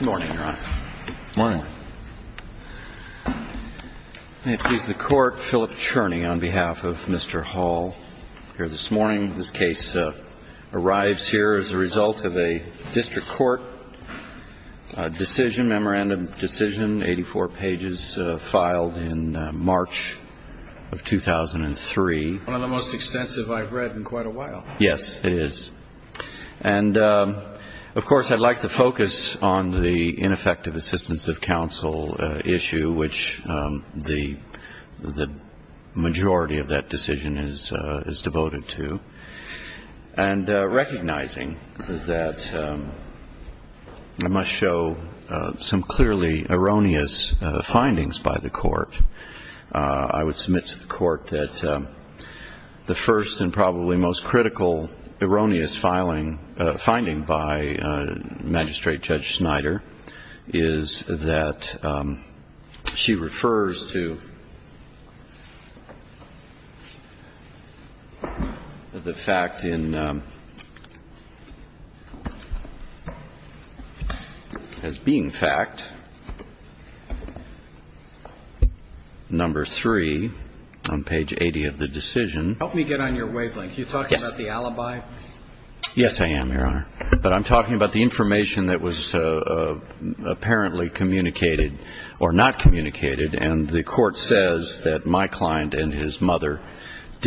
Morning, Your Honor. Morning. It is the Court, Philip Cherney, on behalf of Mr. Hall, here this morning. This case arrives here as a result of a district court decision, memorandum decision, 84 pages, filed in March of 2003. One of the most extensive I've read in quite a while. Yes, it is. And, of course, I'd like to focus on the ineffective assistance of counsel issue, which the majority of that decision is devoted to, and recognizing that I must show some clearly erroneous findings by the Court. I would submit to the Court that the first and probably most critical erroneous finding by Magistrate Judge Snyder is that she refers to the fact in, as being fact, that the court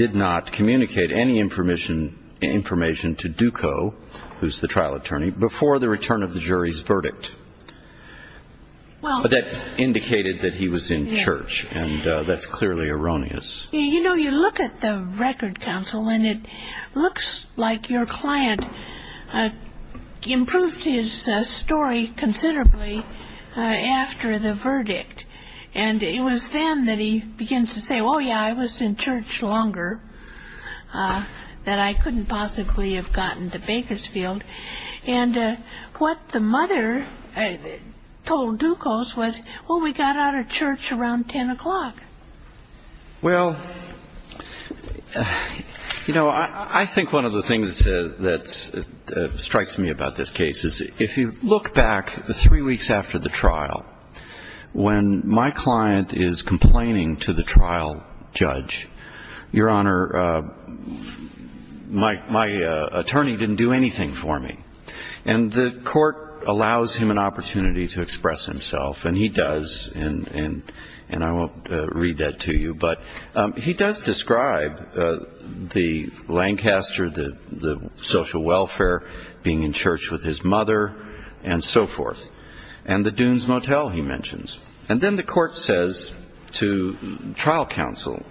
did not communicate any information to Ducot, who's the trial attorney, before the return of the jury's verdict. That indicated that he was in church, and that's clearly erroneous. You know, you look at the record, counsel, and it looks like your client improved his story considerably after the verdict. And it was then that he begins to say, oh, yeah, I was in church longer, that I couldn't possibly have gotten to Bakersfield. And what the mother told Ducos was, well, we got out of church around 10 o'clock. Well, you know, I think one of the things that strikes me about this case is if you look back the three weeks after the trial, when my client is complaining to the trial judge, your Honor, my attorney didn't do anything for me. And the court allows him an opportunity to express himself, and he does, and I won't read that to you, but he does describe the Lancaster, the social welfare, being in church with his mother, and so forth. And the Dunes Motel, he mentions. And then the court says to trial counsel,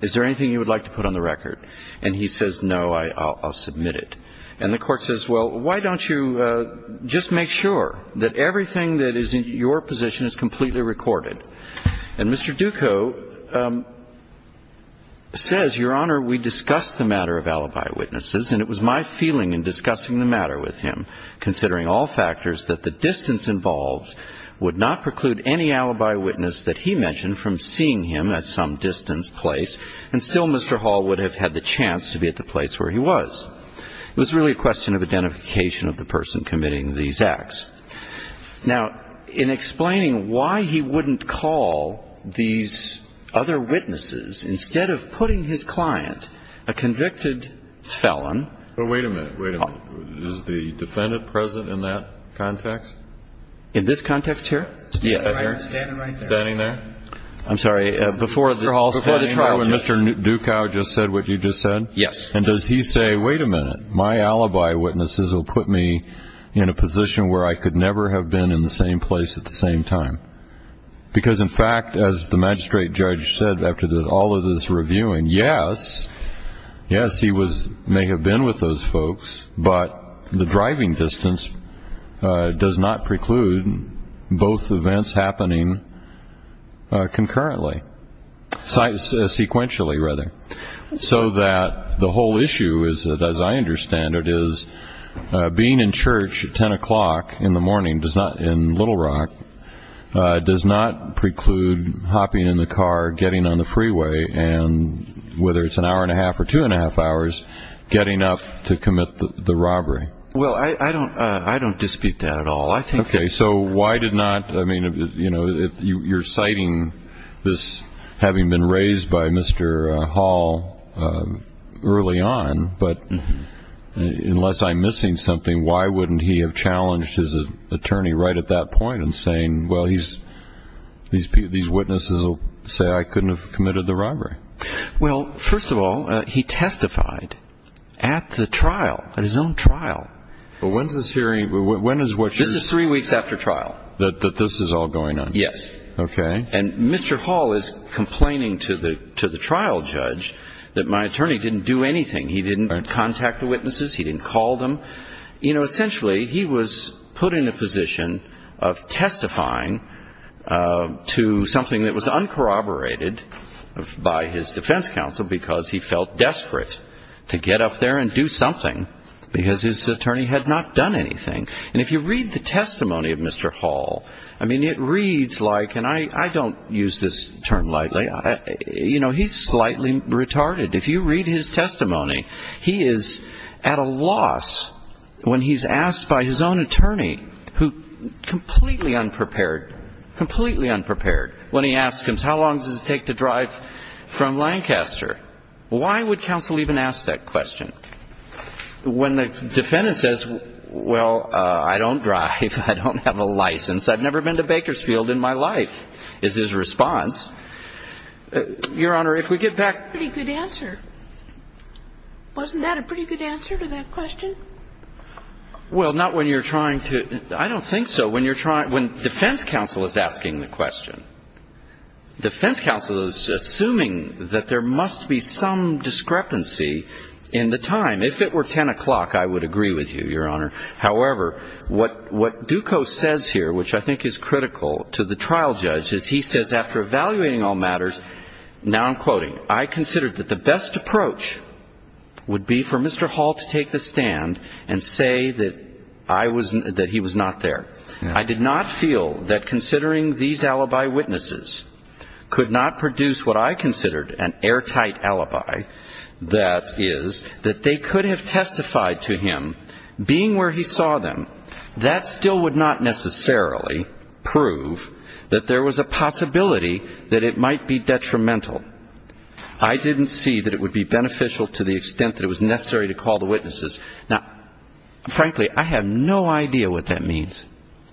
is there anything you would like to put on the record? And he says, no, I'll submit it. And the court says, well, why don't you just make sure that everything that is in your position is completely recorded? And Mr. Ducos says, your Honor, we discussed the matter of alibi witnesses, and it was my feeling in discussing the matter with him, considering all factors that the distance involved would not preclude anything from the trial. Now, in explaining why he wouldn't call these other witnesses, instead of putting his client, a convicted felon – But wait a minute, wait a minute. Is the defendant present in that context? In this context here? Yes. Right here? Yes. Standing right there. Standing there? I'm sorry, before the trial, when Mr. Ducos just said what you just said? Yes. And does he say, wait a minute, my alibi witnesses will put me in a position where I could never have been in the same place at the same time? Because, in fact, as the magistrate judge said after all of this reviewing, yes, yes, he may have been with those folks, but the driving distance does not preclude both events happening concurrently – sequentially, rather. So that the whole issue, as I understand it, is being in church at 10 o'clock in the morning in Little Rock does not preclude hopping in the car, getting on the freeway, and whether it's an hour and a half or two and a half hours, getting up to commit the robbery. Well, I don't dispute that at all. Okay, so why did not – you're citing this having been raised by Mr. Hall early on, but unless I'm missing something, why wouldn't he have challenged his attorney right at that point in saying, well, these witnesses will say I couldn't have committed the robbery? Well, first of all, he testified at the trial, at his own trial. But when is this hearing – when is what you're – This is three weeks after trial. That this is all going on? Yes. Okay. And Mr. Hall is complaining to the trial judge that my attorney didn't do anything. He didn't contact the witnesses. He didn't call them. You know, essentially, he was put in a position of testifying to something that was uncorroborated by his defense counsel because he felt desperate to get up there and do something because his attorney had not done anything. And if you read the testimony of Mr. Hall, I mean, it reads like – and I don't use this term lightly. You know, he's slightly retarded. If you read his testimony, he is at a loss when he's asked by his own attorney, who completely unprepared, completely unprepared, when he asks him, how long does it take to drive from Lancaster? Why would counsel even ask that question? When the defendant says, well, I don't drive, I don't have a license, I've never been to Bakersfield in my life, is his response, Your Honor, if we get back – Pretty good answer. Wasn't that a pretty good answer to that question? Well, not when you're trying to – I don't think so. When defense counsel is asking the question, defense counsel is assuming that there must be some discrepancy in the time. If it were 10 o'clock, I would agree with you, Your Honor. However, what Ducos says here, which I think is critical to the trial judge, is he says, after evaluating all matters, now I'm quoting, I considered that the best approach would be for Mr. Hall to take the stand and say that I was – that he was not there. I did not feel that considering these alibi witnesses could not produce what I considered an airtight alibi, that is, that they could have testified to him, being where he saw them, that still would not necessarily prove that there was a possibility that it might be detrimental. I didn't see that it would be beneficial to the extent that it was necessary to call the witnesses. Now, frankly, I have no idea what that means.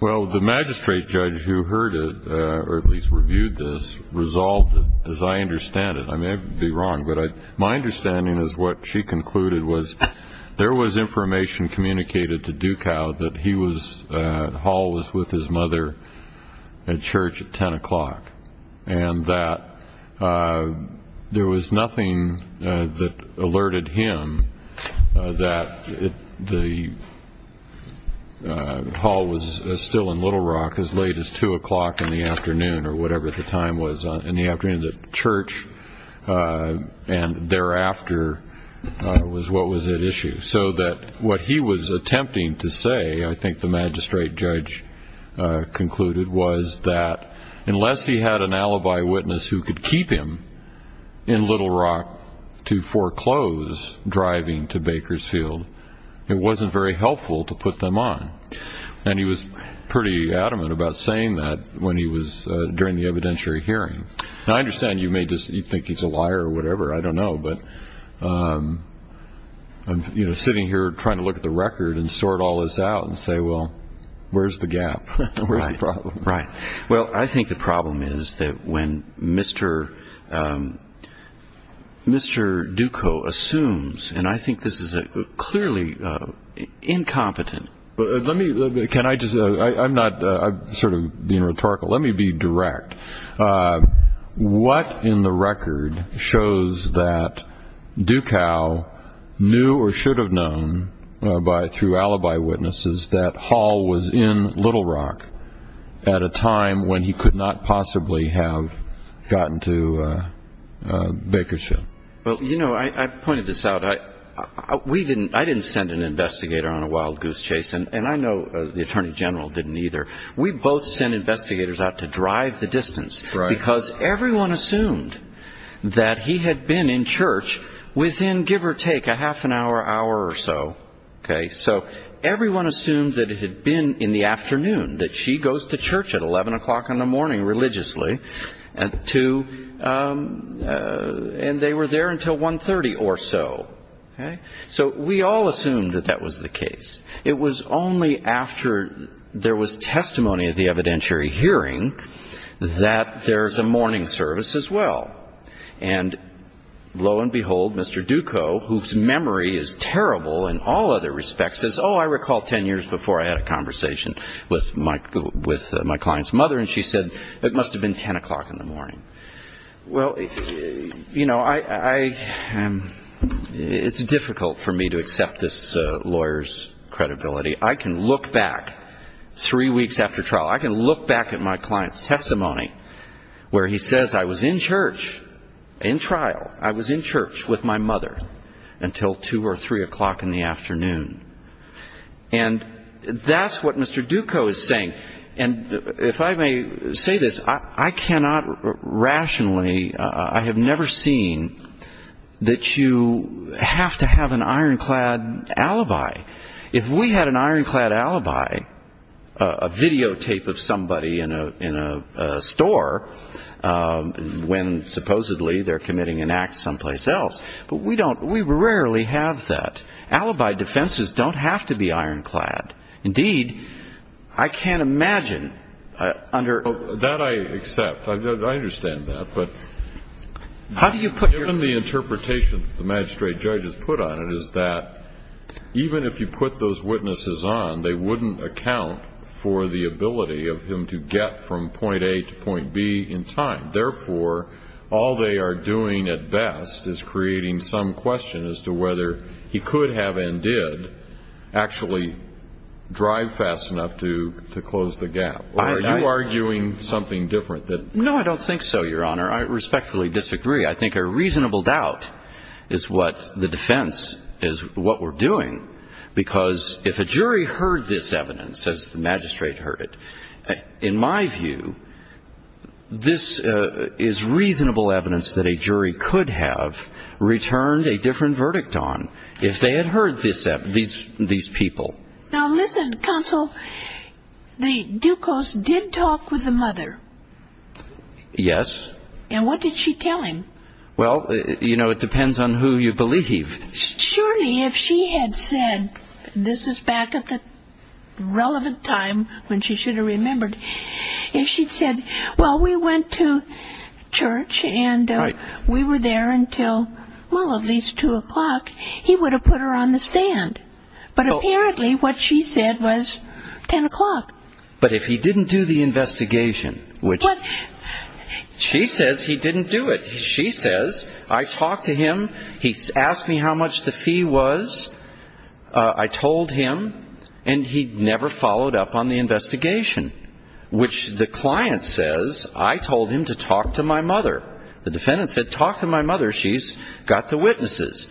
Well, the magistrate judge who heard it, or at least reviewed this, resolved it, as I understand it. I may be wrong, but my understanding is what she concluded was there was information communicated to Ducos that he was – Hall was with his mother at church at 10 o'clock, and that there was nothing that alerted him that Hall was still in Little Rock as late as 2 o'clock in the afternoon, or whatever the time was in the afternoon at church, and thereafter was what was at issue. So that what he was attempting to say, I think the magistrate judge concluded, was that unless he had an alibi witness who could keep him in Little Rock to foreclose driving to Bakersfield, it wasn't very helpful to put them on. And he was pretty adamant about saying that during the evidentiary hearing. Now, I understand you may think he's a liar or whatever, I don't know, but I'm sitting here trying to look at the record and sort all this out and say, well, where's the gap? Where's the problem? Right. I'm sort of being rhetorical. Let me be direct. What in the record shows that Ducos knew or should have known through alibi witnesses that Hall was in Little Rock at a time when he could not possibly have gotten to Bakersfield? Well, you know, I pointed this out. I didn't send an investigator on a wild goose chase, and I know the attorney general didn't either. We both sent investigators out to drive the distance, because everyone assumed that he had been in church within, give or take, a half an hour, hour or so. So everyone assumed that it had been in the afternoon, that she goes to church at 11 o'clock in the morning, religiously, and they were there until 1.30 or so. So we all assumed that that was the case. It was only after there was testimony of the evidentiary hearing that there's a morning service as well. And lo and behold, Mr. Ducos, whose memory is terrible in all other respects, says, Oh, I recall 10 years before I had a conversation with my client's mother, and she said, It must have been 10 o'clock in the morning. Well, you know, it's difficult for me to accept this lawyer's credibility. I can look back three weeks after trial. I can look back at my client's testimony where he says, I was in church, in trial. I was in church with my mother until 2 or 3 o'clock in the afternoon. And that's what Mr. Ducos is saying. And if I may say this, I cannot rationally ñ I have never seen that you have to have an ironclad alibi. If we had an ironclad alibi, a videotape of somebody in a store when supposedly they're committing an act someplace else, but we don't ñ we rarely have that. Alibi defenses don't have to be ironclad. Indeed, I can't imagine under ñ That I accept. I understand that. But ñ How do you put your ñ Even if you put those witnesses on, they wouldn't account for the ability of him to get from point A to point B in time. Therefore, all they are doing at best is creating some question as to whether he could have and did actually drive fast enough to close the gap. Are you arguing something different that ñ No, I don't think so, Your Honor. I respectfully disagree. I think a reasonable doubt is what the defense is ñ what we're doing. Because if a jury heard this evidence, as the magistrate heard it, in my view, this is reasonable evidence that a jury could have returned a different verdict on if they had heard these people. Now, listen, counsel. The Ducos did talk with the mother. Yes. And what did she tell him? Well, you know, it depends on who you believe. Surely if she had said ñ this is back at the relevant time when she should have remembered ñ if she'd said, well, we went to church and we were there until, well, at least 2 o'clock, he would have put her on the stand. But apparently what she said was 10 o'clock. She says he didn't do it. She says, I talked to him. He asked me how much the fee was. I told him. And he never followed up on the investigation, which the client says I told him to talk to my mother. The defendant said, talk to my mother. She's got the witnesses.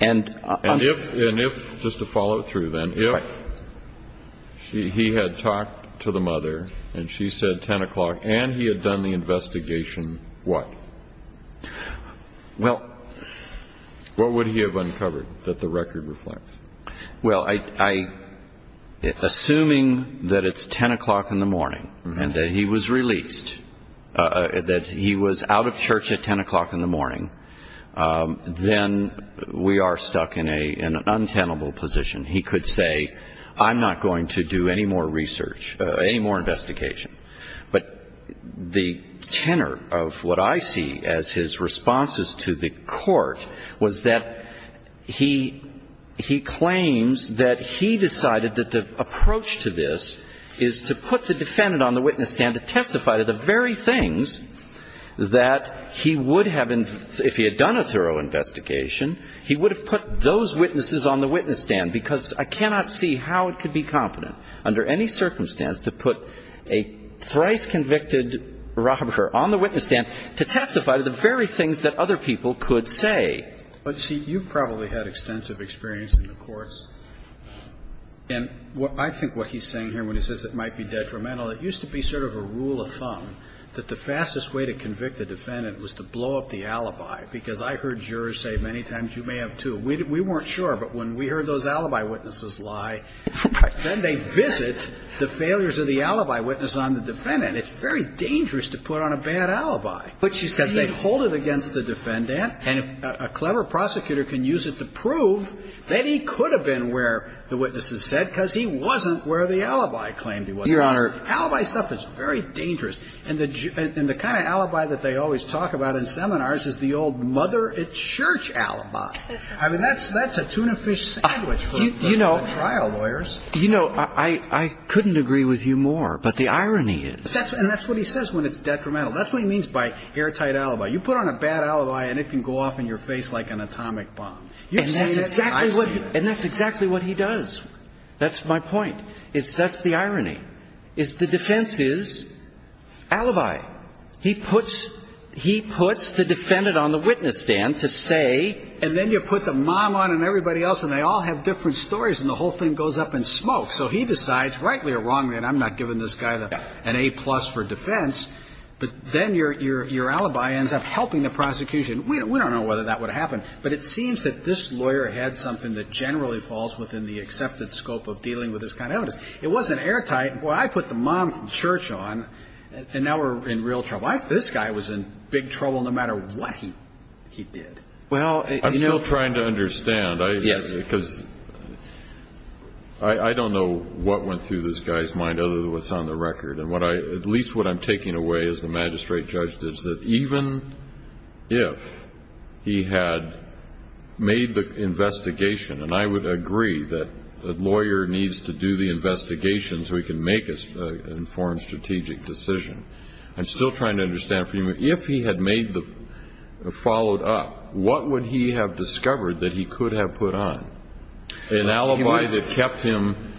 And if ñ just to follow through, then ñ if he had talked to the mother and she said 10 o'clock and he had done the investigation, what? Well ñ What would he have uncovered that the record reflects? Well, assuming that it's 10 o'clock in the morning and that he was released, that he was out of church at 10 o'clock in the morning, then we are stuck in an untenable position. He could say, I'm not going to do any more research, any more investigation. But the tenor of what I see as his responses to the court was that he claims that he decided that the approach to this is to put the defendant on the witness stand to testify to the very things that he would have ñ if he had done a thorough investigation, he would have put those witnesses on the witness stand, because I cannot see how it could be competent under any circumstance to put a thrice-convicted robber on the witness stand to testify to the very things that other people could say. But, see, you probably had extensive experience in the courts. And I think what he's saying here, when he says it might be detrimental, it used to be sort of a rule of thumb that the fastest way to convict a defendant was to blow up the alibi, because I heard jurors say many times, you may have two. We weren't sure. But when we heard those alibi witnesses lie, then they visit the failures of the alibi witness on the defendant. It's very dangerous to put on a bad alibi. But, you see, they hold it against the defendant. And if a clever prosecutor can use it to prove that he could have been where the witnesses said, because he wasn't where the alibi claimed he was. Your Honor. Alibi stuff is very dangerous. And the kind of alibi that they always talk about in seminars is the old mother-at-church alibi. I mean, that's a tuna fish sandwich for the trial lawyers. You know, I couldn't agree with you more. But the irony is ñ And that's what he says when it's detrimental. That's what he means by hair-tight alibi. You put on a bad alibi, and it can go off in your face like an atomic bomb. And that's exactly what he does. That's my point. That's the irony, is the defense is alibi. He puts the defendant on the witness stand to say ñ And then you put the mom on and everybody else, and they all have different stories, and the whole thing goes up in smoke. So he decides, rightly or wrongly, and I'm not giving this guy an A-plus for defense, but then your alibi ends up helping the prosecution. We don't know whether that would have happened. But it seems that this lawyer had something that generally falls within the accepted scope of dealing with this kind of evidence. It wasn't hair-tight. Well, I put the mom from church on, and now we're in real trouble. This guy was in big trouble no matter what he did. Well, you know ñ I'm still trying to understand. Yes. Because I don't know what went through this guy's mind other than what's on the record. And at least what I'm taking away, as the magistrate judge did, is that even if he had made the investigation, and I would agree that a lawyer needs to do the investigation so he can make an informed strategic decision. I'm still trying to understand, if he had made the ñ followed up, what would he have discovered that he could have put on? An alibi that kept him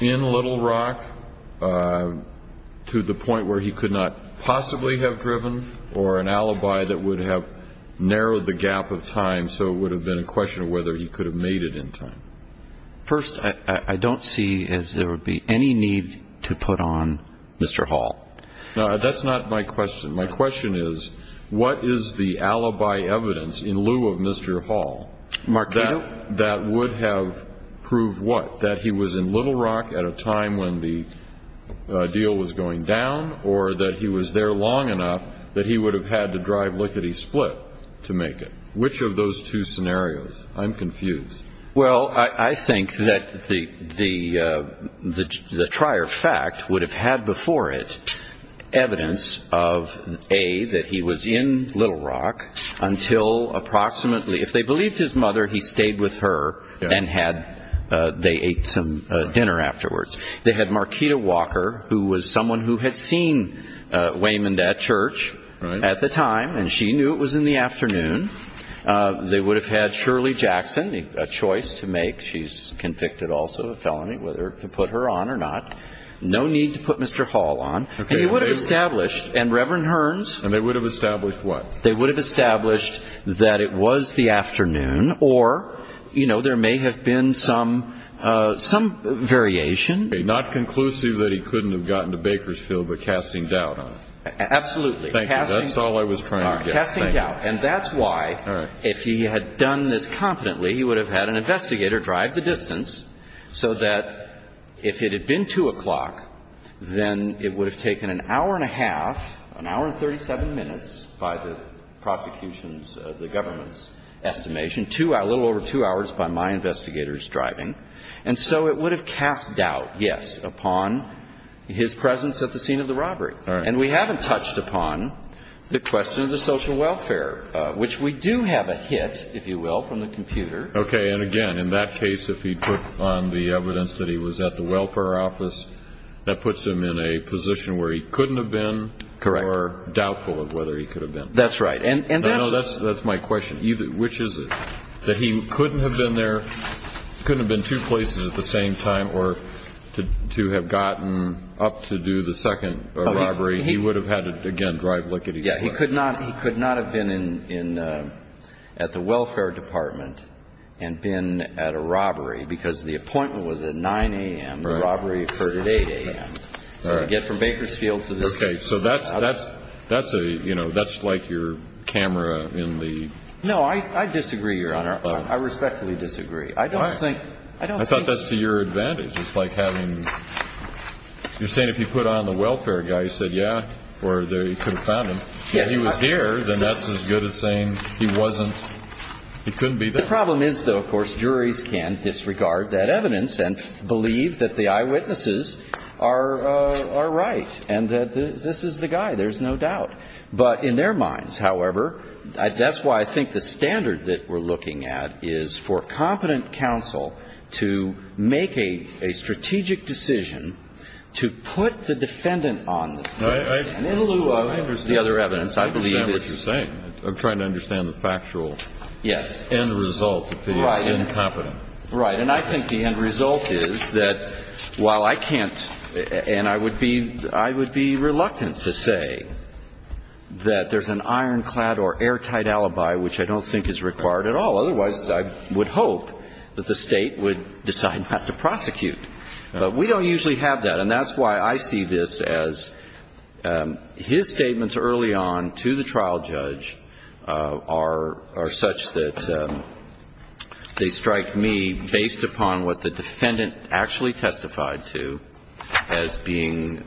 in Little Rock to the point where he could not possibly have driven, or an alibi that would have narrowed the gap of time so it would have been a question of whether he could have made it in time. First, I don't see as there would be any need to put on Mr. Hall. No, that's not my question. My question is, what is the alibi evidence in lieu of Mr. Hall? That would have proved what? That he was in Little Rock at a time when the deal was going down, or that he was there long enough that he would have had to drive Lickety-Split to make it? Which of those two scenarios? I'm confused. Well, I think that the prior fact would have had before it evidence of, A, that he was in Little Rock until approximately ñ if they believed his mother, he stayed with her and had ñ they ate some dinner afterwards. They had Marquita Walker, who was someone who had seen Waymond at church at the time, and she knew it was in the afternoon. They would have had Shirley Jackson, a choice to make. She's convicted also of felony, whether to put her on or not. No need to put Mr. Hall on. And he would have established ñ and Reverend Hearns ñ And they would have established what? They would have established that it was the afternoon, or, you know, there may have been some variation. Not conclusive that he couldn't have gotten to Bakersfield, but casting doubt on it. Absolutely. Thank you. That's all I was trying to get. Casting doubt. And that's why, if he had done this confidently, he would have had an investigator drive the distance so that if it had been 2 o'clock, then it would have taken an hour and a half, an hour and 37 minutes by the prosecution's, the government's estimation, a little over two hours by my investigator's driving. And so it would have cast doubt, yes, upon his presence at the scene of the robbery. All right. And we haven't touched upon the question of the social welfare, which we do have a hit, if you will, from the computer. Okay. And again, in that case, if he put on the evidence that he was at the welfare office, that puts him in a position where he couldn't have been. Correct. Or doubtful of whether he could have been. That's right. No, no, that's my question. Which is that he couldn't have been there, couldn't have been two places at the same time, or to have gotten up to do the second robbery, he would have had to, again, drive lickety-slack. Yeah. He could not have been at the welfare department and been at a robbery because the appointment was at 9 a.m. The robbery occurred at 8 a.m. All right. To get from Bakersfield to this place. Okay. So that's a, you know, that's like your camera in the... No, I disagree, Your Honor. I respectfully disagree. I don't think... I thought that's to your advantage. It's like having... You're saying if you put on the welfare guy, you said, yeah, or they could have found him. Yes. If he was here, then that's as good as saying he wasn't, he couldn't be there. The problem is, though, of course, juries can disregard that evidence and believe that the eyewitnesses are right and that this is the guy. There's no doubt. But in their minds, however, that's why I think the standard that we're looking at is for competent counsel to make a strategic decision to put the defendant on the stand. In lieu of the other evidence, I believe... I understand what you're saying. I'm trying to understand the factual... Yes.... end result of being incompetent. Right. And I think the end result is that while I can't... And I would be... I would be reluctant to say that there's an ironclad or airtight alibi which I don't think is required at all. Otherwise, I would hope that the State would decide not to prosecute. But we don't usually have that. And that's why I see this as his statements early on to the trial judge are such that they strike me based upon what the defendant actually testified to as being...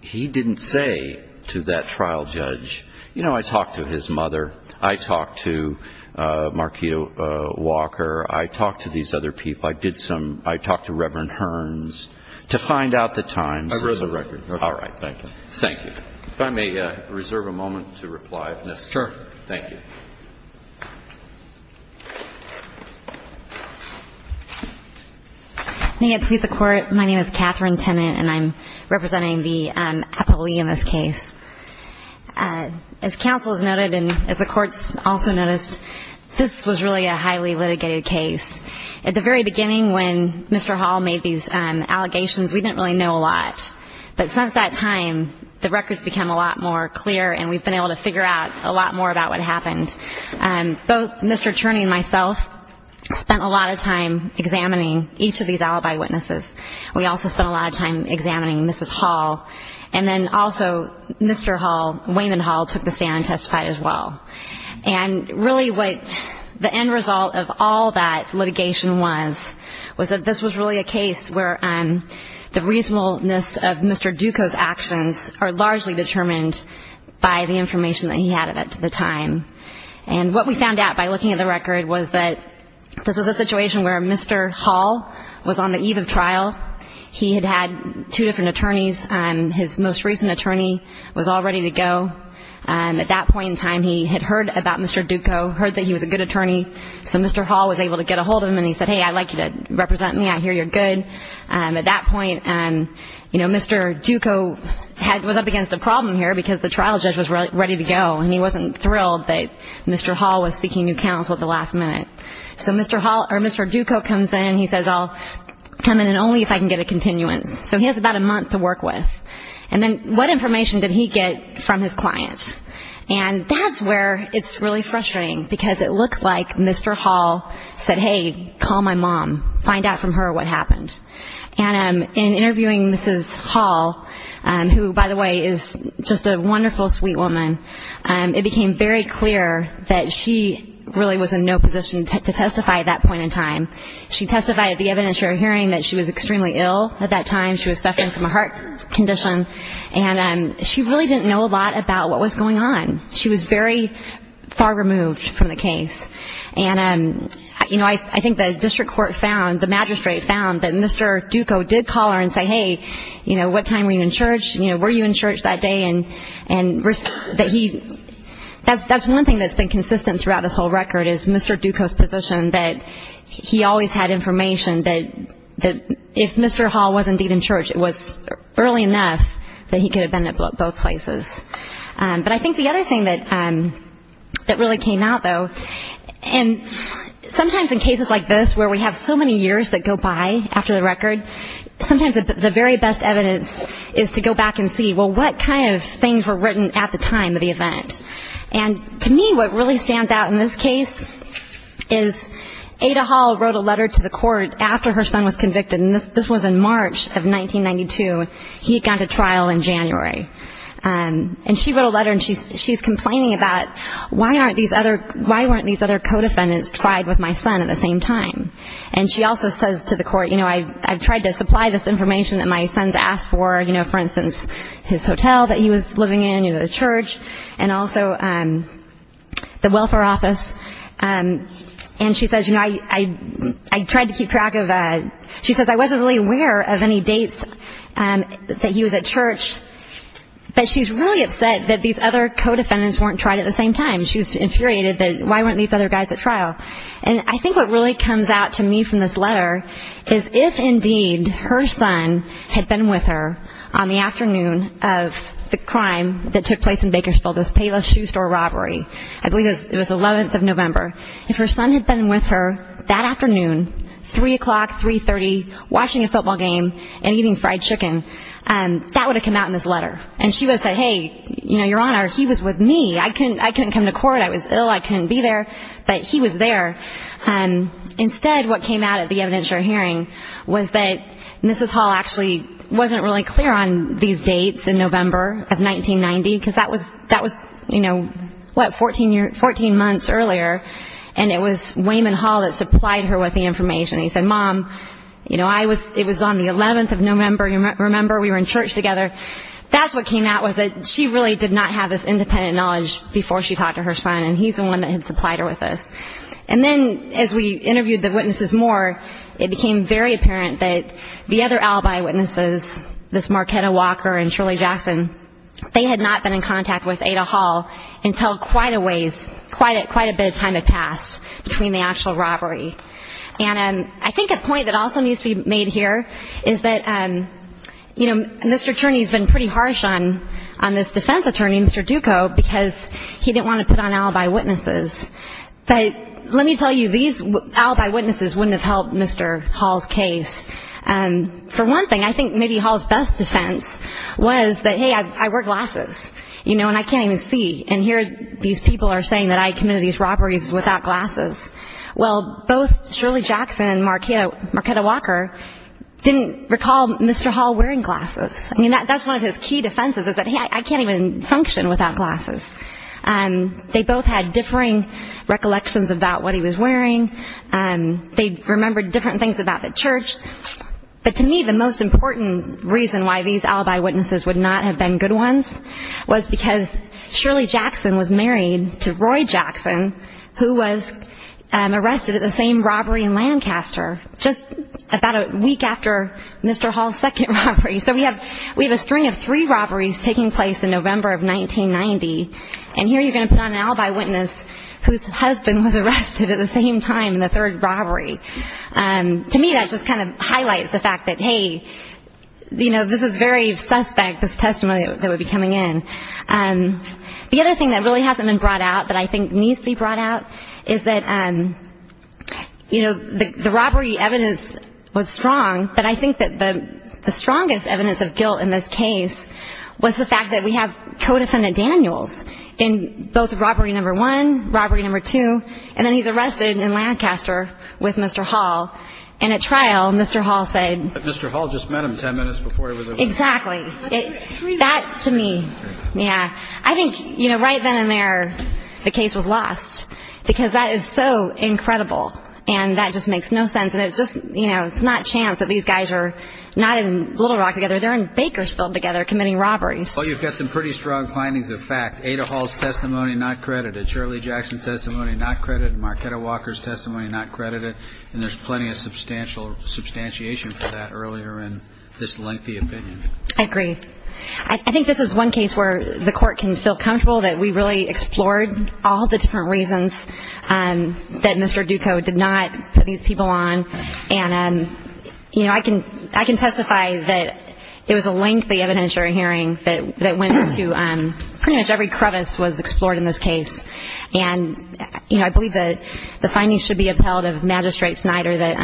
He didn't say to that trial judge... You know, I talked to his mother. I talked to Marquis Walker. I talked to these other people. I did some... I talked to Reverend Hearns to find out the times. I read the record. All right. Thank you. Thank you. If I may reserve a moment to reply. Sure. Thank you. May it please the Court. My name is Catherine Tennant, and I'm representing the appellee in this case. As counsel has noted and as the Court's also noticed, this was really a highly litigated case. At the very beginning when Mr. Hall made these allegations, we didn't really know a lot. But since that time, the records become a lot more clear, and we've been able to figure out a lot more about what happened. Both Mr. Turney and myself spent a lot of time examining each of these alibi witnesses. We also spent a lot of time examining Mrs. Hall. And then also Mr. Hall, Wayman Hall, took the stand and testified as well. And really what the end result of all that litigation was, was that this was really a case where the reasonableness of Mr. Duco's actions are largely determined by the information that he had at the time. And what we found out by looking at the record was that this was a situation where Mr. Hall was on the eve of trial. He had had two different attorneys. His most recent attorney was all ready to go. At that point in time, he had heard about Mr. Duco, heard that he was a good attorney. So Mr. Hall was able to get a hold of him, and he said, hey, I'd like you to represent me. I hear you're good. At that point, Mr. Duco was up against a problem here because the trial judge was ready to go, and he wasn't thrilled that Mr. Hall was seeking new counsel at the last minute. So Mr. Duco comes in. He says, I'll come in only if I can get a continuance. So he has about a month to work with. And then what information did he get from his client? And that's where it's really frustrating because it looks like Mr. Hall said, hey, call my mom. Find out from her what happened. And in interviewing Mrs. Hall, who, by the way, is just a wonderful, sweet woman, it became very clear that she really was in no position to testify at that point in time. She testified at the evidentiary hearing that she was extremely ill at that time. She was suffering from a heart condition. And she really didn't know a lot about what was going on. She was very far removed from the case. And, you know, I think the district court found, the magistrate found, that Mr. Duco did call her and say, hey, you know, what time were you in church? You know, were you in church that day? That's one thing that's been consistent throughout this whole record is Mr. Duco's position that he always had information that if Mr. Hall was indeed in church, it was early enough that he could have been at both places. But I think the other thing that really came out, though, and sometimes in cases like this where we have so many years that go by after the record, sometimes the very best evidence is to go back and see, well, what kind of things were written at the time of the event. And to me what really stands out in this case is Ada Hall wrote a letter to the court after her son was convicted, and this was in March of 1992. He had gone to trial in January. And she wrote a letter, and she's complaining about, why aren't these other co-defendants tried with my son at the same time? And she also says to the court, you know, I've tried to supply this information that my son's asked for, you know, for instance, his hotel that he was living in or the church, and also the welfare office. And she says, you know, I tried to keep track of that. She says, I wasn't really aware of any dates that he was at church. But she's really upset that these other co-defendants weren't tried at the same time. She's infuriated that, why weren't these other guys at trial? And I think what really comes out to me from this letter is, if indeed her son had been with her on the afternoon of the crime that took place in Bakersfield, this Payless Shoe Store robbery, I believe it was 11th of November, if her son had been with her that afternoon, 3 o'clock, 3.30, watching a football game and eating fried chicken, that would have come out in this letter. And she would have said, hey, you know, Your Honor, he was with me. I couldn't come to court. I was ill. I couldn't be there. But he was there. Instead, what came out of the evidentiary hearing was that Mrs. Hall actually wasn't really clear on these dates in November of 1990, because that was, you know, what, 14 months earlier. And it was Wayman Hall that supplied her with the information. He said, Mom, you know, it was on the 11th of November, remember? We were in church together. That's what came out was that she really did not have this independent knowledge before she talked to her son, and he's the one that had supplied her with this. And then as we interviewed the witnesses more, it became very apparent that the other alibi witnesses, this Marquetta Walker and Shirley Jackson, they had not been in contact with Ada Hall until quite a ways, quite a bit of time had passed between the actual robbery. And I think a point that also needs to be made here is that, you know, Mr. Turney's been pretty harsh on this defense attorney, Mr. Duco, because he didn't want to put on alibi witnesses. But let me tell you, these alibi witnesses wouldn't have helped Mr. Hall's case. For one thing, I think maybe Hall's best defense was that, hey, I wear glasses, you know, and I can't even see. And here these people are saying that I committed these robberies without glasses. Well, both Shirley Jackson and Marquetta Walker didn't recall Mr. Hall wearing glasses. I mean, that's one of his key defenses is that, hey, I can't even function without glasses. They both had differing recollections about what he was wearing. They remembered different things about the church. But to me, the most important reason why these alibi witnesses would not have been good ones was because Shirley Jackson was married to Roy Jackson, who was arrested at the same robbery in Lancaster, just about a week after Mr. Hall's second robbery. So we have a string of three robberies taking place in November of 1990, and here you're going to put on an alibi witness whose husband was arrested at the same time in the third robbery. To me, that just kind of highlights the fact that, hey, you know, this is very suspect, this testimony that would be coming in. The other thing that really hasn't been brought out but I think needs to be brought out is that, you know, the robbery evidence was strong, but I think that the strongest evidence of guilt in this case was the fact that we have co-defendant Daniels in both robbery number one, robbery number two, and then he's arrested in Lancaster with Mr. Hall. And at trial, Mr. Hall said. Mr. Hall just met him ten minutes before he was arrested. Exactly. That, to me, yeah. I think, you know, right then and there the case was lost because that is so incredible and that just makes no sense and it's just, you know, it's not chance that these guys are not in Little Rock together, they're in Bakersfield together committing robberies. Well, you've got some pretty strong findings of fact. Ada Hall's testimony, not credited. Shirley Jackson's testimony, not credited. Marquetta Walker's testimony, not credited. And there's plenty of substantiation for that earlier in this lengthy opinion. I agree. I think this is one case where the court can feel comfortable that we really explored all the different reasons that Mr. Duco did not put these people on. And, you know, I can testify that it was a lengthy evidentiary hearing that went into pretty much every crevice was explored in this case. And, you know, I believe that the findings should be upheld of Magistrate Snyder that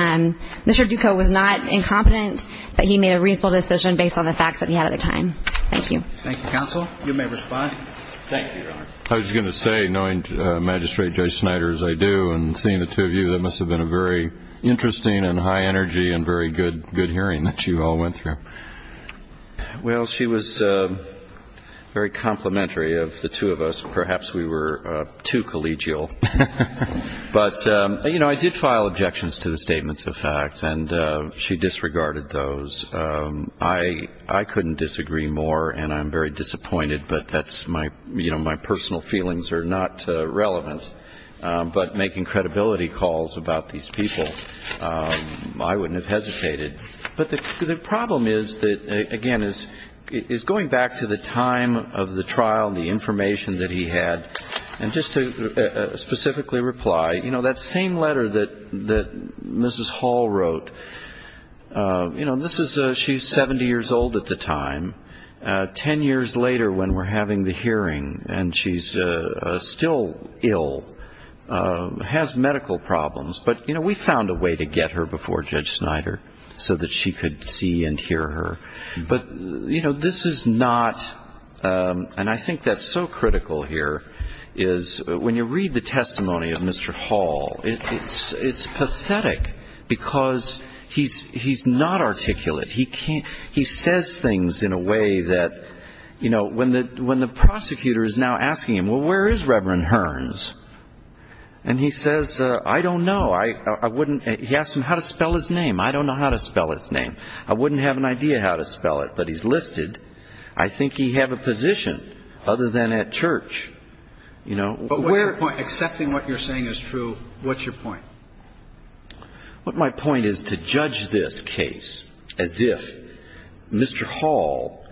Mr. Duco was not incompetent, but he made a reasonable decision based on the facts that he had at the time. Thank you. Thank you, Counsel. You may respond. Thank you, Your Honor. I was going to say, knowing Magistrate Judge Snyder, as I do, and seeing the two of you, that must have been a very interesting and high energy and very good hearing that you all went through. Well, she was very complimentary of the two of us. Perhaps we were too collegial. But, you know, I did file objections to the statements of fact, and she disregarded those. I couldn't disagree more, and I'm very disappointed. But that's my personal feelings are not relevant. But making credibility calls about these people, I wouldn't have hesitated. But the problem is that, again, is going back to the time of the trial, the information that he had, and just to specifically reply, you know, that same letter that Mrs. Hall wrote, you know, she's 70 years old at the time, 10 years later when we're having the hearing, and she's still ill, has medical problems. But, you know, we found a way to get her before Judge Snyder so that she could see and hear her. But, you know, this is not, and I think that's so critical here, is when you read the testimony of Mr. Hall, it's pathetic because he's not articulate. He says things in a way that, you know, when the prosecutor is now asking him, well, where is Reverend Hearns? And he says, I don't know. He asks him how to spell his name. I don't know how to spell his name. I wouldn't have an idea how to spell it, but he's listed. I think he'd have a position other than at church. But what's your point? Accepting what you're saying is true, what's your point? My point is to judge this case as if Mr. Hall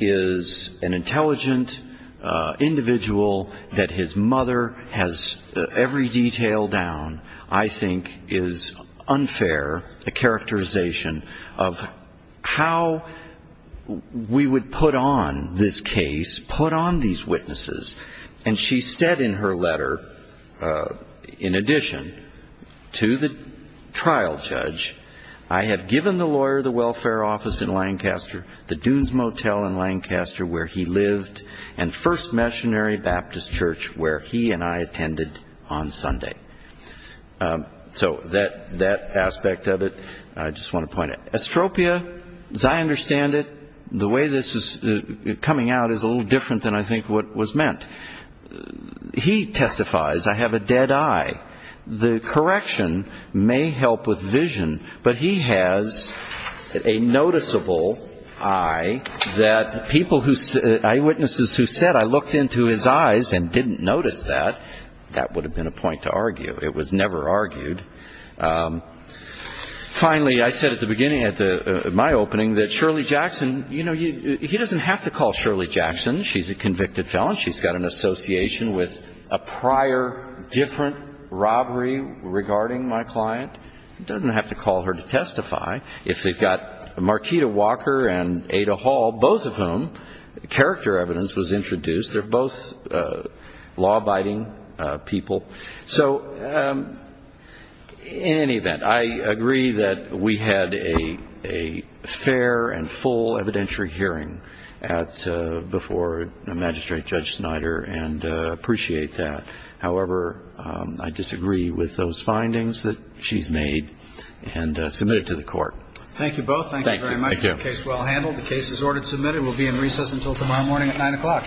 is an intelligent individual that his mother has every detail down, I think is unfair, a characterization of how we would put on this case, put on these witnesses. And she said in her letter, in addition to the trial judge, I have given the lawyer the welfare office in Lancaster, the Dunes Motel in Lancaster where he lived, and First Missionary Baptist Church where he and I attended on Sunday. So that aspect of it, I just want to point out. Astropia, as I understand it, the way this is coming out is a little different than I think what was meant. He testifies, I have a dead eye. The correction may help with vision, but he has a noticeable eye that eyewitnesses who said, I looked into his eyes and didn't notice that, that would have been a point to argue. It was never argued. Finally, I said at the beginning of my opening that Shirley Jackson, you know, he doesn't have to call Shirley Jackson. She's a convicted felon. She's got an association with a prior different robbery regarding my client. He doesn't have to call her to testify. If they've got Marquita Walker and Ada Hall, both of whom, character evidence was introduced. They're both law-abiding people. So in any event, I agree that we had a fair and full evidentiary hearing before Magistrate Judge Snyder and appreciate that. However, I disagree with those findings that she's made and submit it to the court. Thank you both. Thank you very much. The case is well handled. The case is ordered to submit. It will be in recess until tomorrow morning at nine o'clock. Thank you. Thank you. Thank you.